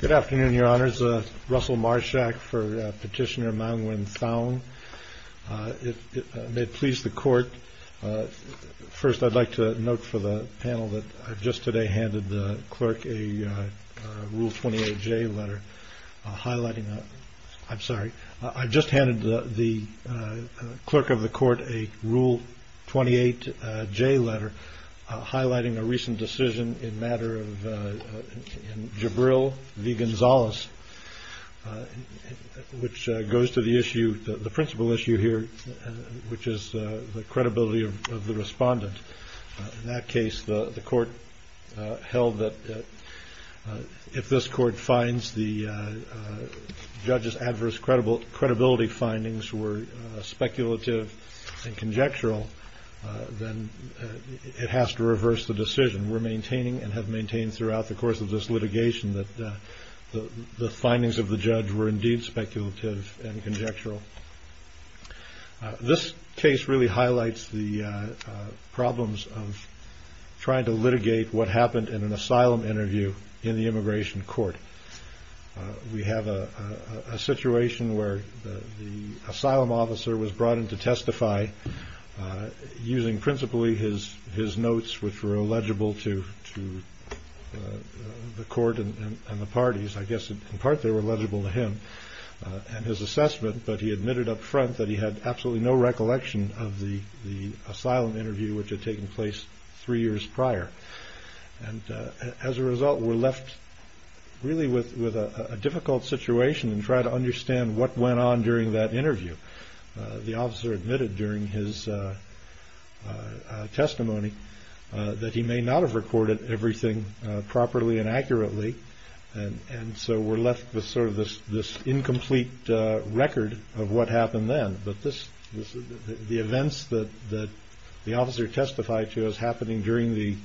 Good afternoon, Your Honors. Russell Marschak for Petitioner Maung Win Thaung. May it please the Court, first I'd like to note for the panel that I just today handed the Clerk a Rule 28J letter highlighting, I'm sorry, I just handed the Clerk of the Court a Rule 28J letter highlighting a recent decision in matter of Jabril v. Gonzalez which goes to the issue, the principal issue here which is the credibility of the respondent. In that case the Court held that if this Court finds the judge's adverse credibility findings were speculative and conjectural then it has to reverse the decision. We're maintaining and have maintained throughout the course of this litigation that the findings of the judge were indeed speculative and conjectural. This case really highlights the problems of trying to litigate what happened in an asylum interview in the immigration court. We have a situation where the asylum officer was brought in to testify using principally his notes which were illegible to the Court and the parties. I guess in part they were illegible to him and his assessment but he admitted up front that he had absolutely no recollection of the asylum interview which had taken place three years prior. As a result we're left really with a difficult situation and try to understand what went on during that interview. The officer admitted during his testimony that he may not have recorded everything properly and accurately and so we're left with sort of this incomplete record of what happened then. The events that the officer testified to as happening during the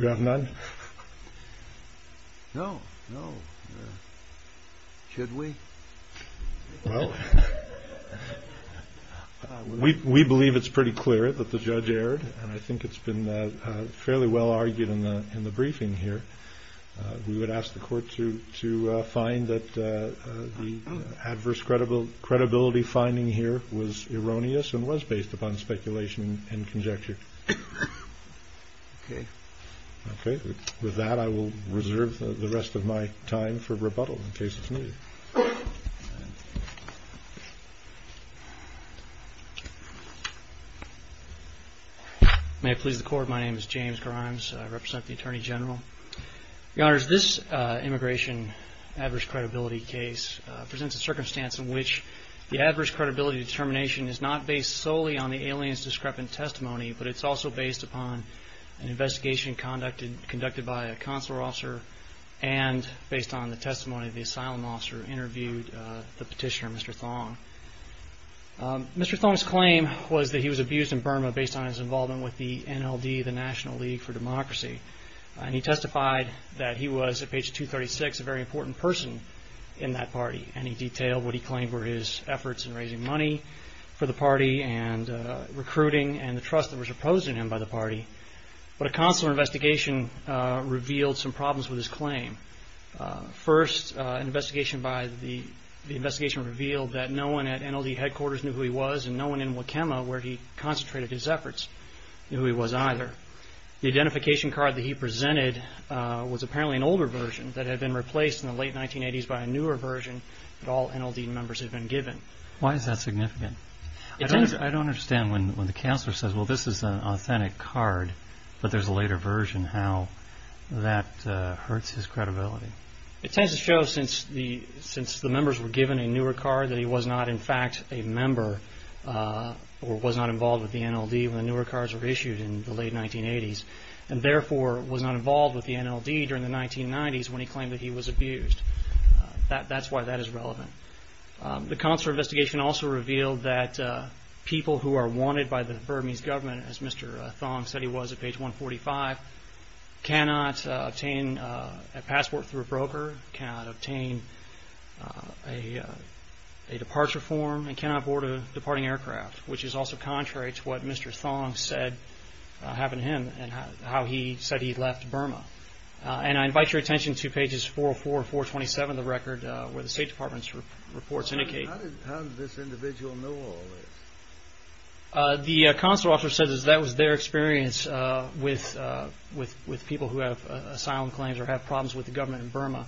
You have none? No, no. Should we? Well, we believe it's pretty clear that the judge erred and I think it's been fairly well argued in the briefing here. We would ask the Court to find that the adverse credibility finding here was erroneous and was based upon speculation and conjecture. Okay, with that I will reserve the rest of my time for rebuttal in case it's needed. May it please the Court, my name is James Grimes, I represent the Attorney General. Your Honors, this immigration adverse credibility case presents a circumstance in which the adverse credibility determination is not based solely on the alien's discrepant testimony but it's also based upon an investigation conducted by a consular officer and based on the testimony of the asylum officer who interviewed the petitioner, Mr. Thong. Mr. Thong's claim was that he was abused in Burma based on his involvement with the NLD, the National League for Democracy, and he testified that he was, at page 236, a very important person in that party and he detailed what he claimed were his efforts in raising money for the party and recruiting and the trust that was imposed on him by the party. But a consular investigation revealed some problems with his claim. First, an investigation revealed that no one at NLD headquarters knew who he was and no one in Wakema where he concentrated his efforts knew who he was either. The identification card that he presented was apparently an older version that had been replaced in the late 1980s by a newer version that all NLD members had been given. Why is that significant? I don't understand when the counselor says well this is an authentic card but there's a later version how that hurts his credibility. It tends to show since the members were given a newer card that he was not in fact a member or was not involved with the NLD when the newer cards were issued in the consular investigation also revealed that people who are wanted by the Burmese government, as Mr. Thong said he was at page 145, cannot obtain a passport through a broker, cannot obtain a departure form, and cannot board a departing aircraft, which is also contrary to what Mr. Thong said happened to him and how he said he left Burma. And I invite your attention to pages 404 and 427 of the record where the State Department's reports indicate. How did this individual know all this? The consular officer said that was their experience with people who have asylum claims or have problems with the government in Burma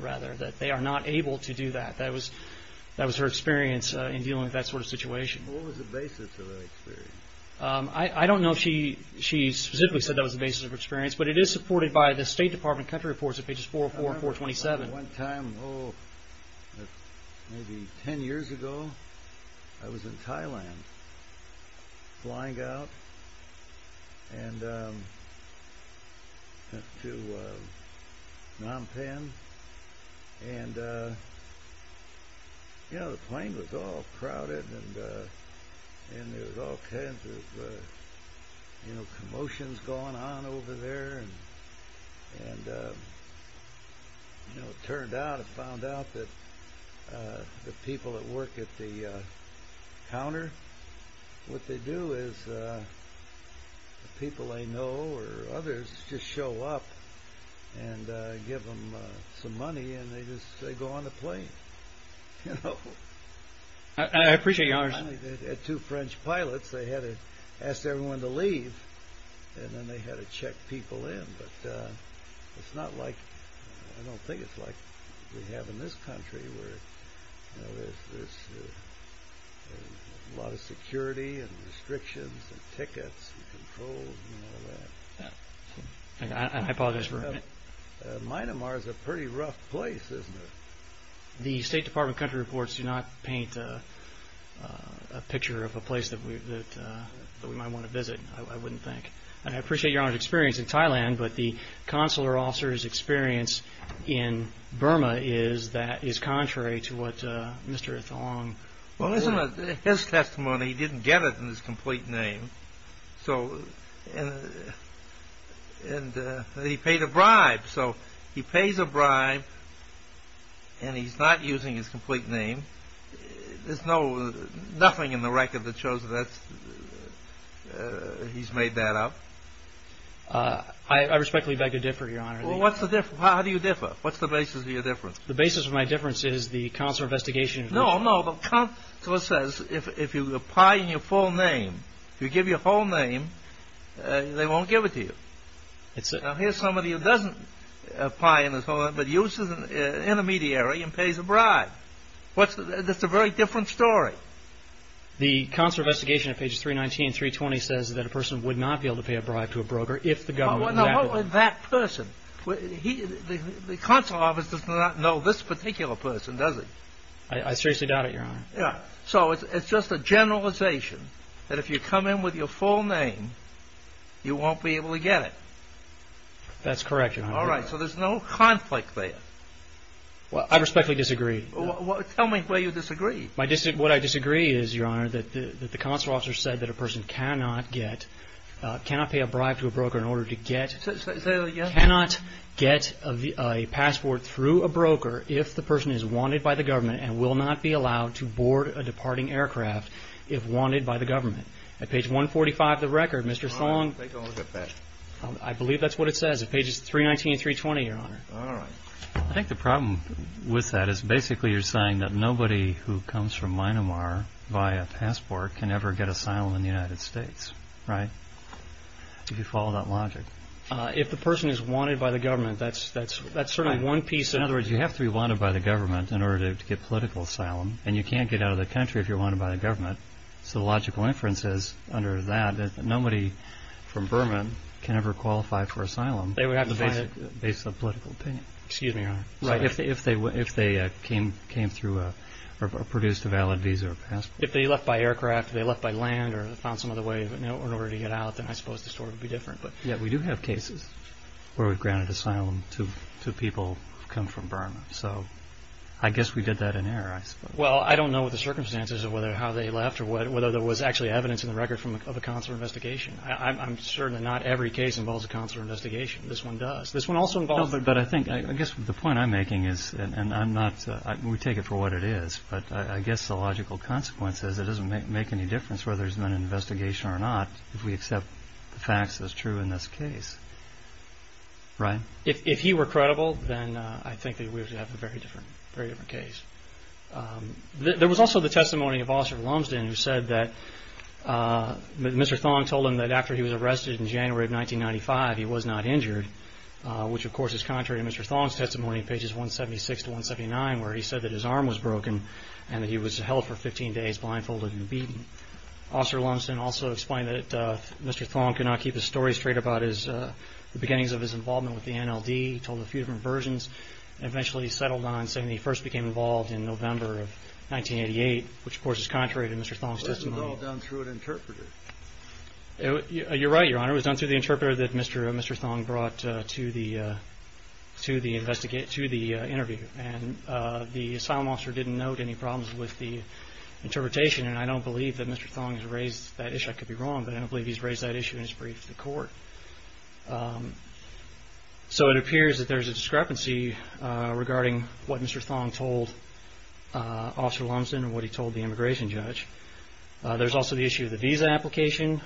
rather that they are not able to do that. That was her experience in dealing with that sort of situation. What was the basis of that experience? I don't know if she specifically said that was the basis of her experience, but it is supported by the State Department country reports at pages 404 and 427. One time, maybe ten years ago, I was in Thailand flying out to Phnom Penh and the plane was all crowded and there were all kinds of commotions going on over there. It turned out that the people that work at the counter, what they do is the people they know or others just show up and give them some money and they go on the plane. I appreciate your honesty. They had two French pilots. They asked everyone to leave and then they had to check people in. It's not like, I don't think it's like we have in this country where there's a lot of security and restrictions and tickets and controls and all that. I apologize for interrupting. Myanmar is a pretty rough place, isn't it? The State Department country reports do not paint a picture of a place that we might want to visit, I wouldn't think. I appreciate your experience in Thailand, but the consular officer's experience in Burma is that is contrary to what Mr. Thong... His testimony, he didn't get it in his complete name. He paid a bribe, so he pays a bribe and he's not using his complete name. There's nothing in the record that shows that he's made that up. I respectfully beg to differ, Your Honor. How do you differ? What's the basis of your difference? The basis of my difference is the consular investigation... No, no, the consular says if you apply in your full name, if you give your full name, they won't give it to you. Now here's somebody who doesn't apply in his full name, but uses an intermediary and pays a bribe. That's a very different story. The consular investigation at pages 319 and 320 says that a person would not be able to pay a bribe to a broker if the government... What about that person? The consular officer does not know this particular person, does he? I seriously doubt it, Your Honor. So it's just a generalization that if you come in with your full name, you won't be able to get it. That's correct, Your Honor. All right, so there's no conflict there. I respectfully disagree. Tell me why you disagree. What I disagree is, Your Honor, that the consular officer said that a person cannot pay a bribe to a broker in order to get... Say that again. ...cannot get a passport through a broker if the person is wanted by the government and will not be allowed to board a departing aircraft if wanted by the government. At page 145 of the record, Mr. Thong... All right, take a look at that. I believe that's what it says at pages 319 and 320, Your Honor. All right. I think the problem with that is basically you're saying that nobody who comes from Myanmar by a passport can ever get asylum in the United States, right? If you follow that logic. If the person is wanted by the government, that's certainly one piece of... In other words, you have to be wanted by the government in order to get political asylum, and you can't get out of the country if you're wanted by the government. So the logical inference is, under that, that nobody from Burma can ever qualify for asylum based on political opinion. Excuse me, Your Honor. Right, if they came through or produced a valid visa or passport. If they left by aircraft or they left by land or found some other way in order to get out, then I suppose the story would be different. Yeah, we do have cases where we've granted asylum to people who come from Burma. So I guess we did that in error, I suppose. Well, I don't know what the circumstances of how they left or whether there was actually evidence in the record of a consular investigation. I'm certain that not every case involves a consular investigation. This one does. This one also involves... No, but I think... I guess the point I'm making is, and I'm not... We take it for what it is, but I guess the logical consequence is it doesn't make any difference whether there's been an investigation or not if we accept the facts as true in this case. Right? If he were credible, then I think that we would have a very different case. There was also the testimony of Officer Lumsden who said that Mr. Thong told him that after he was arrested in January of 1995, he was not injured, which, of course, is contrary to Mr. Thong's testimony in pages 176 to 179 where he said that his arm was broken and that he was held for 15 days blindfolded and beaten. Officer Lumsden also explained that Mr. Thong could not keep his story straight about the beginnings of his involvement with the NLD. He told a few different versions and eventually settled on saying that he first became involved in November of 1988, which, of course, is contrary to Mr. Thong's testimony. Well, this was all done through an interpreter. You're right, Your Honor. It was done through the interpreter that Mr. Thong brought to the interview. The asylum officer didn't note any problems with the interpretation, and I don't believe that Mr. Thong has raised that issue. I could be wrong, but I don't believe he's raised that issue in his brief to court. So it appears that there's a discrepancy regarding what Mr. Thong told Officer Lumsden and what he told the immigration judge. There's also the issue of the visa application.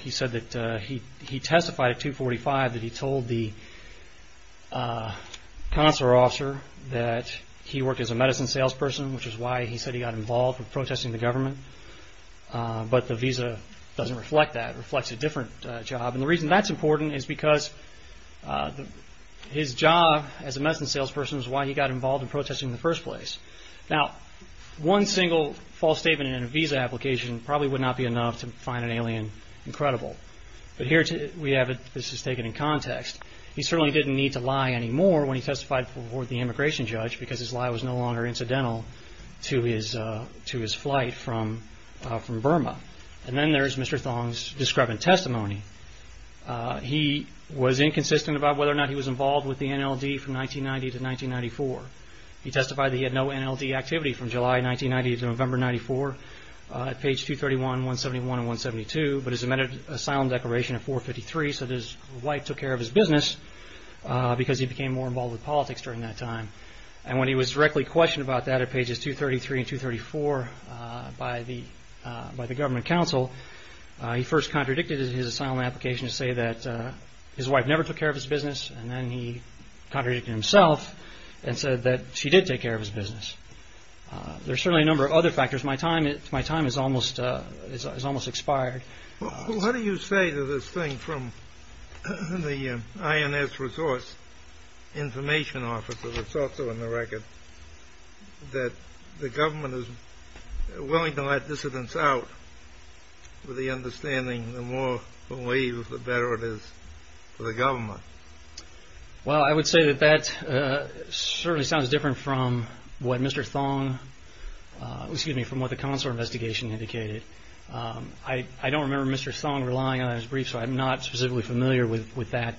He testified at 245 that he told the consular officer that he worked as a medicine salesperson, which is why he said he got involved in protesting the government, but the visa doesn't reflect that. It reflects a different job, and the reason that's important is because his job as a medicine salesperson is why he got involved in protesting in the first place. Now, one single false statement in a visa application probably would not be enough to find an alien incredible, but here we have it, this is taken in context. He certainly didn't need to lie anymore when he testified before the immigration judge because his lie was no longer incidental to his flight from Burma. And then there's Mr. Thong's discrepant testimony. He was inconsistent about whether or not he was involved with the NLD from 1990 to 1994. He testified that he had no NLD activity from July 1990 to November 1994 at page 231, 171, and 172, but his amended asylum declaration at 453 said his wife took care of his business because he became more involved with politics during that time. And when he was directly questioned about that at pages 233 and 234 by the government counsel, he first contradicted his asylum application to say that his wife never took care of his business, and then he contradicted himself and said that she did take care of his business. There are certainly a number of other factors. My time is almost expired. Well, what do you say to this thing from the INS Resource Information Office, which is also in the record, that the government is willing to let dissidents out with the understanding the more we leave, the better it is for the government? Well, I would say that that certainly sounds different from what Mr. Thong, excuse me, from what the consular investigation indicated. I don't remember Mr. Thong relying on it in his brief, so I'm not specifically familiar with that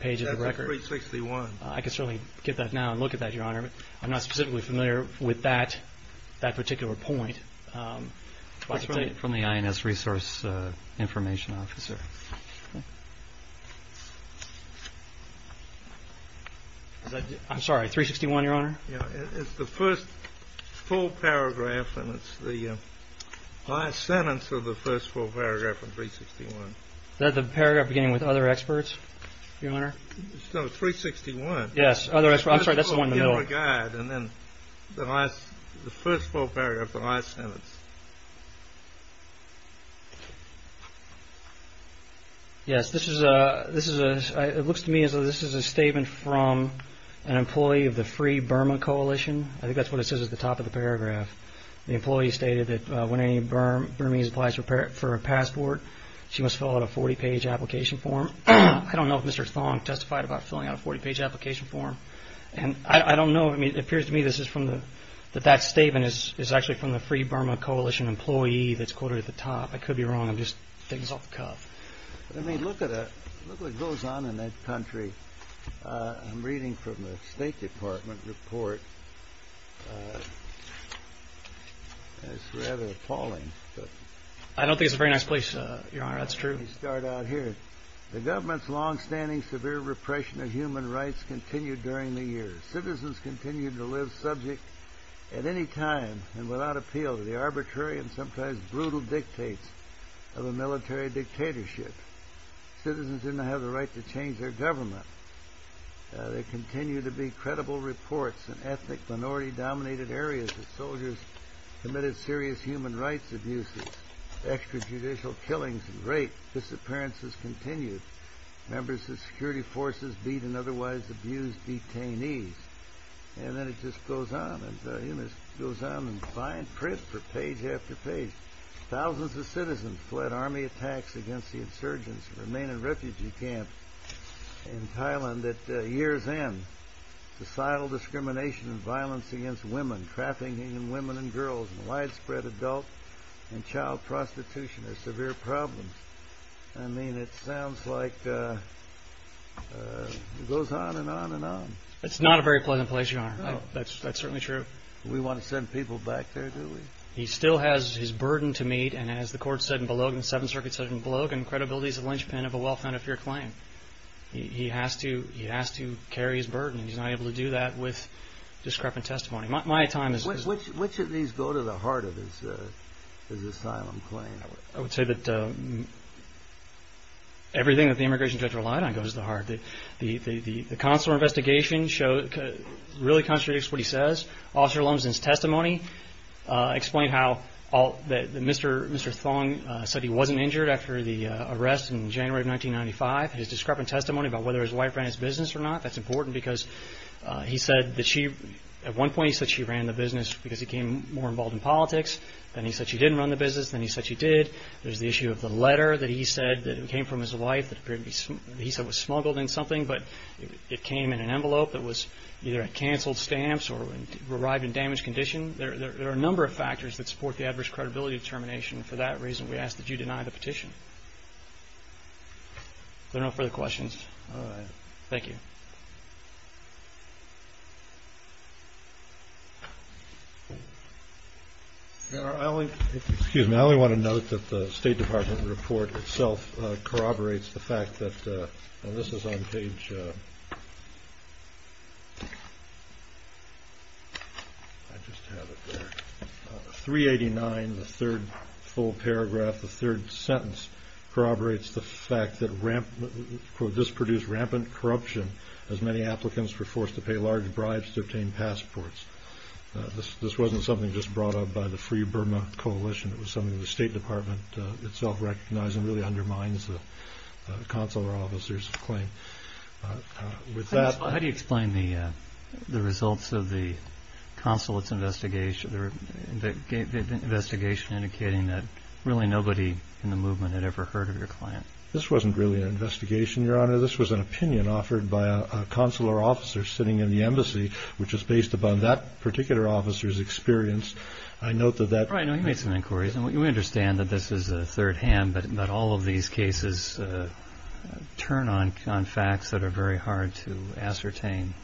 page of the record. That's 361. I'm not specifically familiar with that particular point from the INS Resource Information Office. I'm sorry, 361, Your Honor? It's the first full paragraph, and it's the last sentence of the first full paragraph in 361. Is that the paragraph beginning with other experts, Your Honor? Yes, other experts. I'm sorry, that's the one in the middle. And then the first full paragraph, the last sentence. Yes, it looks to me as though this is a statement from an employee of the Free Burma Coalition. I think that's what it says at the top of the paragraph. The employee stated that when any Burmese applies for a passport, she must fill out a 40-page application form. I don't know if Mr. Thong testified about filling out a 40-page application form, and I don't know. I mean, it appears to me that that statement is actually from the Free Burma Coalition employee that's quoted at the top. I could be wrong. I'm just digging this off the cuff. I mean, look what goes on in that country. I'm reading from the State Department report. It's rather appalling. I don't think it's a very nice place, Your Honor. That's true. Let me start out here. The government's longstanding severe repression of human rights continued during the years. Citizens continued to live subject at any time and without appeal to the arbitrary and sometimes brutal dictates of a military dictatorship. Citizens didn't have the right to change their government. There continue to be credible reports in ethnic minority-dominated areas that soldiers committed serious human rights abuses, extrajudicial killings and rape. Disappearances continued. Members of security forces beat and otherwise abused detainees. And then it just goes on. It goes on in fine print for page after page. Thousands of citizens fled army attacks against the insurgents and remained in refugee camps. In Thailand at year's end, societal discrimination and violence against women, trafficking in women and girls and widespread adult and child prostitution are severe problems. I mean, it sounds like it goes on and on and on. It's not a very pleasant place, Your Honor. That's certainly true. We want to send people back there, do we? He still has his burden to meet. And as the court said in Bologna, the Seventh Circuit said in Bologna, credibility is a linchpin of a well-founded fear claim. He has to carry his burden, and he's not able to do that with discrepant testimony. My time is— Which of these go to the heart of his asylum claim? I would say that everything that the immigration judge relied on goes to the heart. The consular investigation really contradicts what he says. Officer Lumsden's testimony explained how Mr. Thong said he wasn't injured after the arrest in January of 1995. His discrepant testimony about whether his wife ran his business or not, that's important because he said that she— at one point he said she ran the business because he became more involved in politics. Then he said she didn't run the business. Then he said she did. There's the issue of the letter that he said that came from his wife that he said was smuggled in something, but it came in an envelope that was either at canceled stamps or arrived in damaged condition. There are a number of factors that support the adverse credibility determination. For that reason, we ask that you deny the petition. If there are no further questions— All right. Thank you. Excuse me. I only want to note that the State Department report itself corroborates the fact that—and this is on page—I just have it there. 389, the third full paragraph, the third sentence, corroborates the fact that this produced rampant corruption as many applicants were forced to pay large bribes to obtain passports. This wasn't something just brought up by the Free Burma Coalition. It was something the State Department itself recognized and really undermines the consular officer's claim. With that— How do you explain the results of the consulate's investigation, the investigation indicating that really nobody in the movement had ever heard of your client? This wasn't really an investigation, Your Honor. This was an opinion offered by a consular officer sitting in the embassy, which was based upon that particular officer's experience. I note that that— Right. He made some inquiries. We understand that this is a third hand, but all of these cases turn on facts that are very hard to ascertain.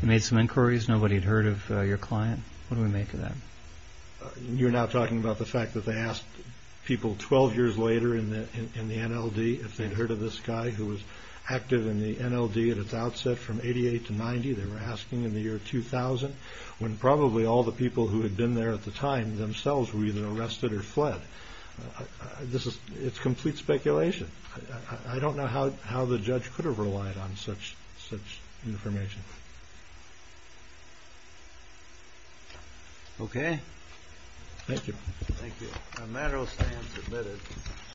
He made some inquiries. Nobody had heard of your client. What do we make of that? You're now talking about the fact that they asked people 12 years later in the NLD if they'd heard of this guy who was active in the NLD at its outset from 1988 to 1990. They were asking in the year 2000, when probably all the people who had been there at the time themselves were either arrested or fled. It's complete speculation. I don't know how the judge could have relied on such information. Okay. Thank you. Thank you. A matter of stance, admitted.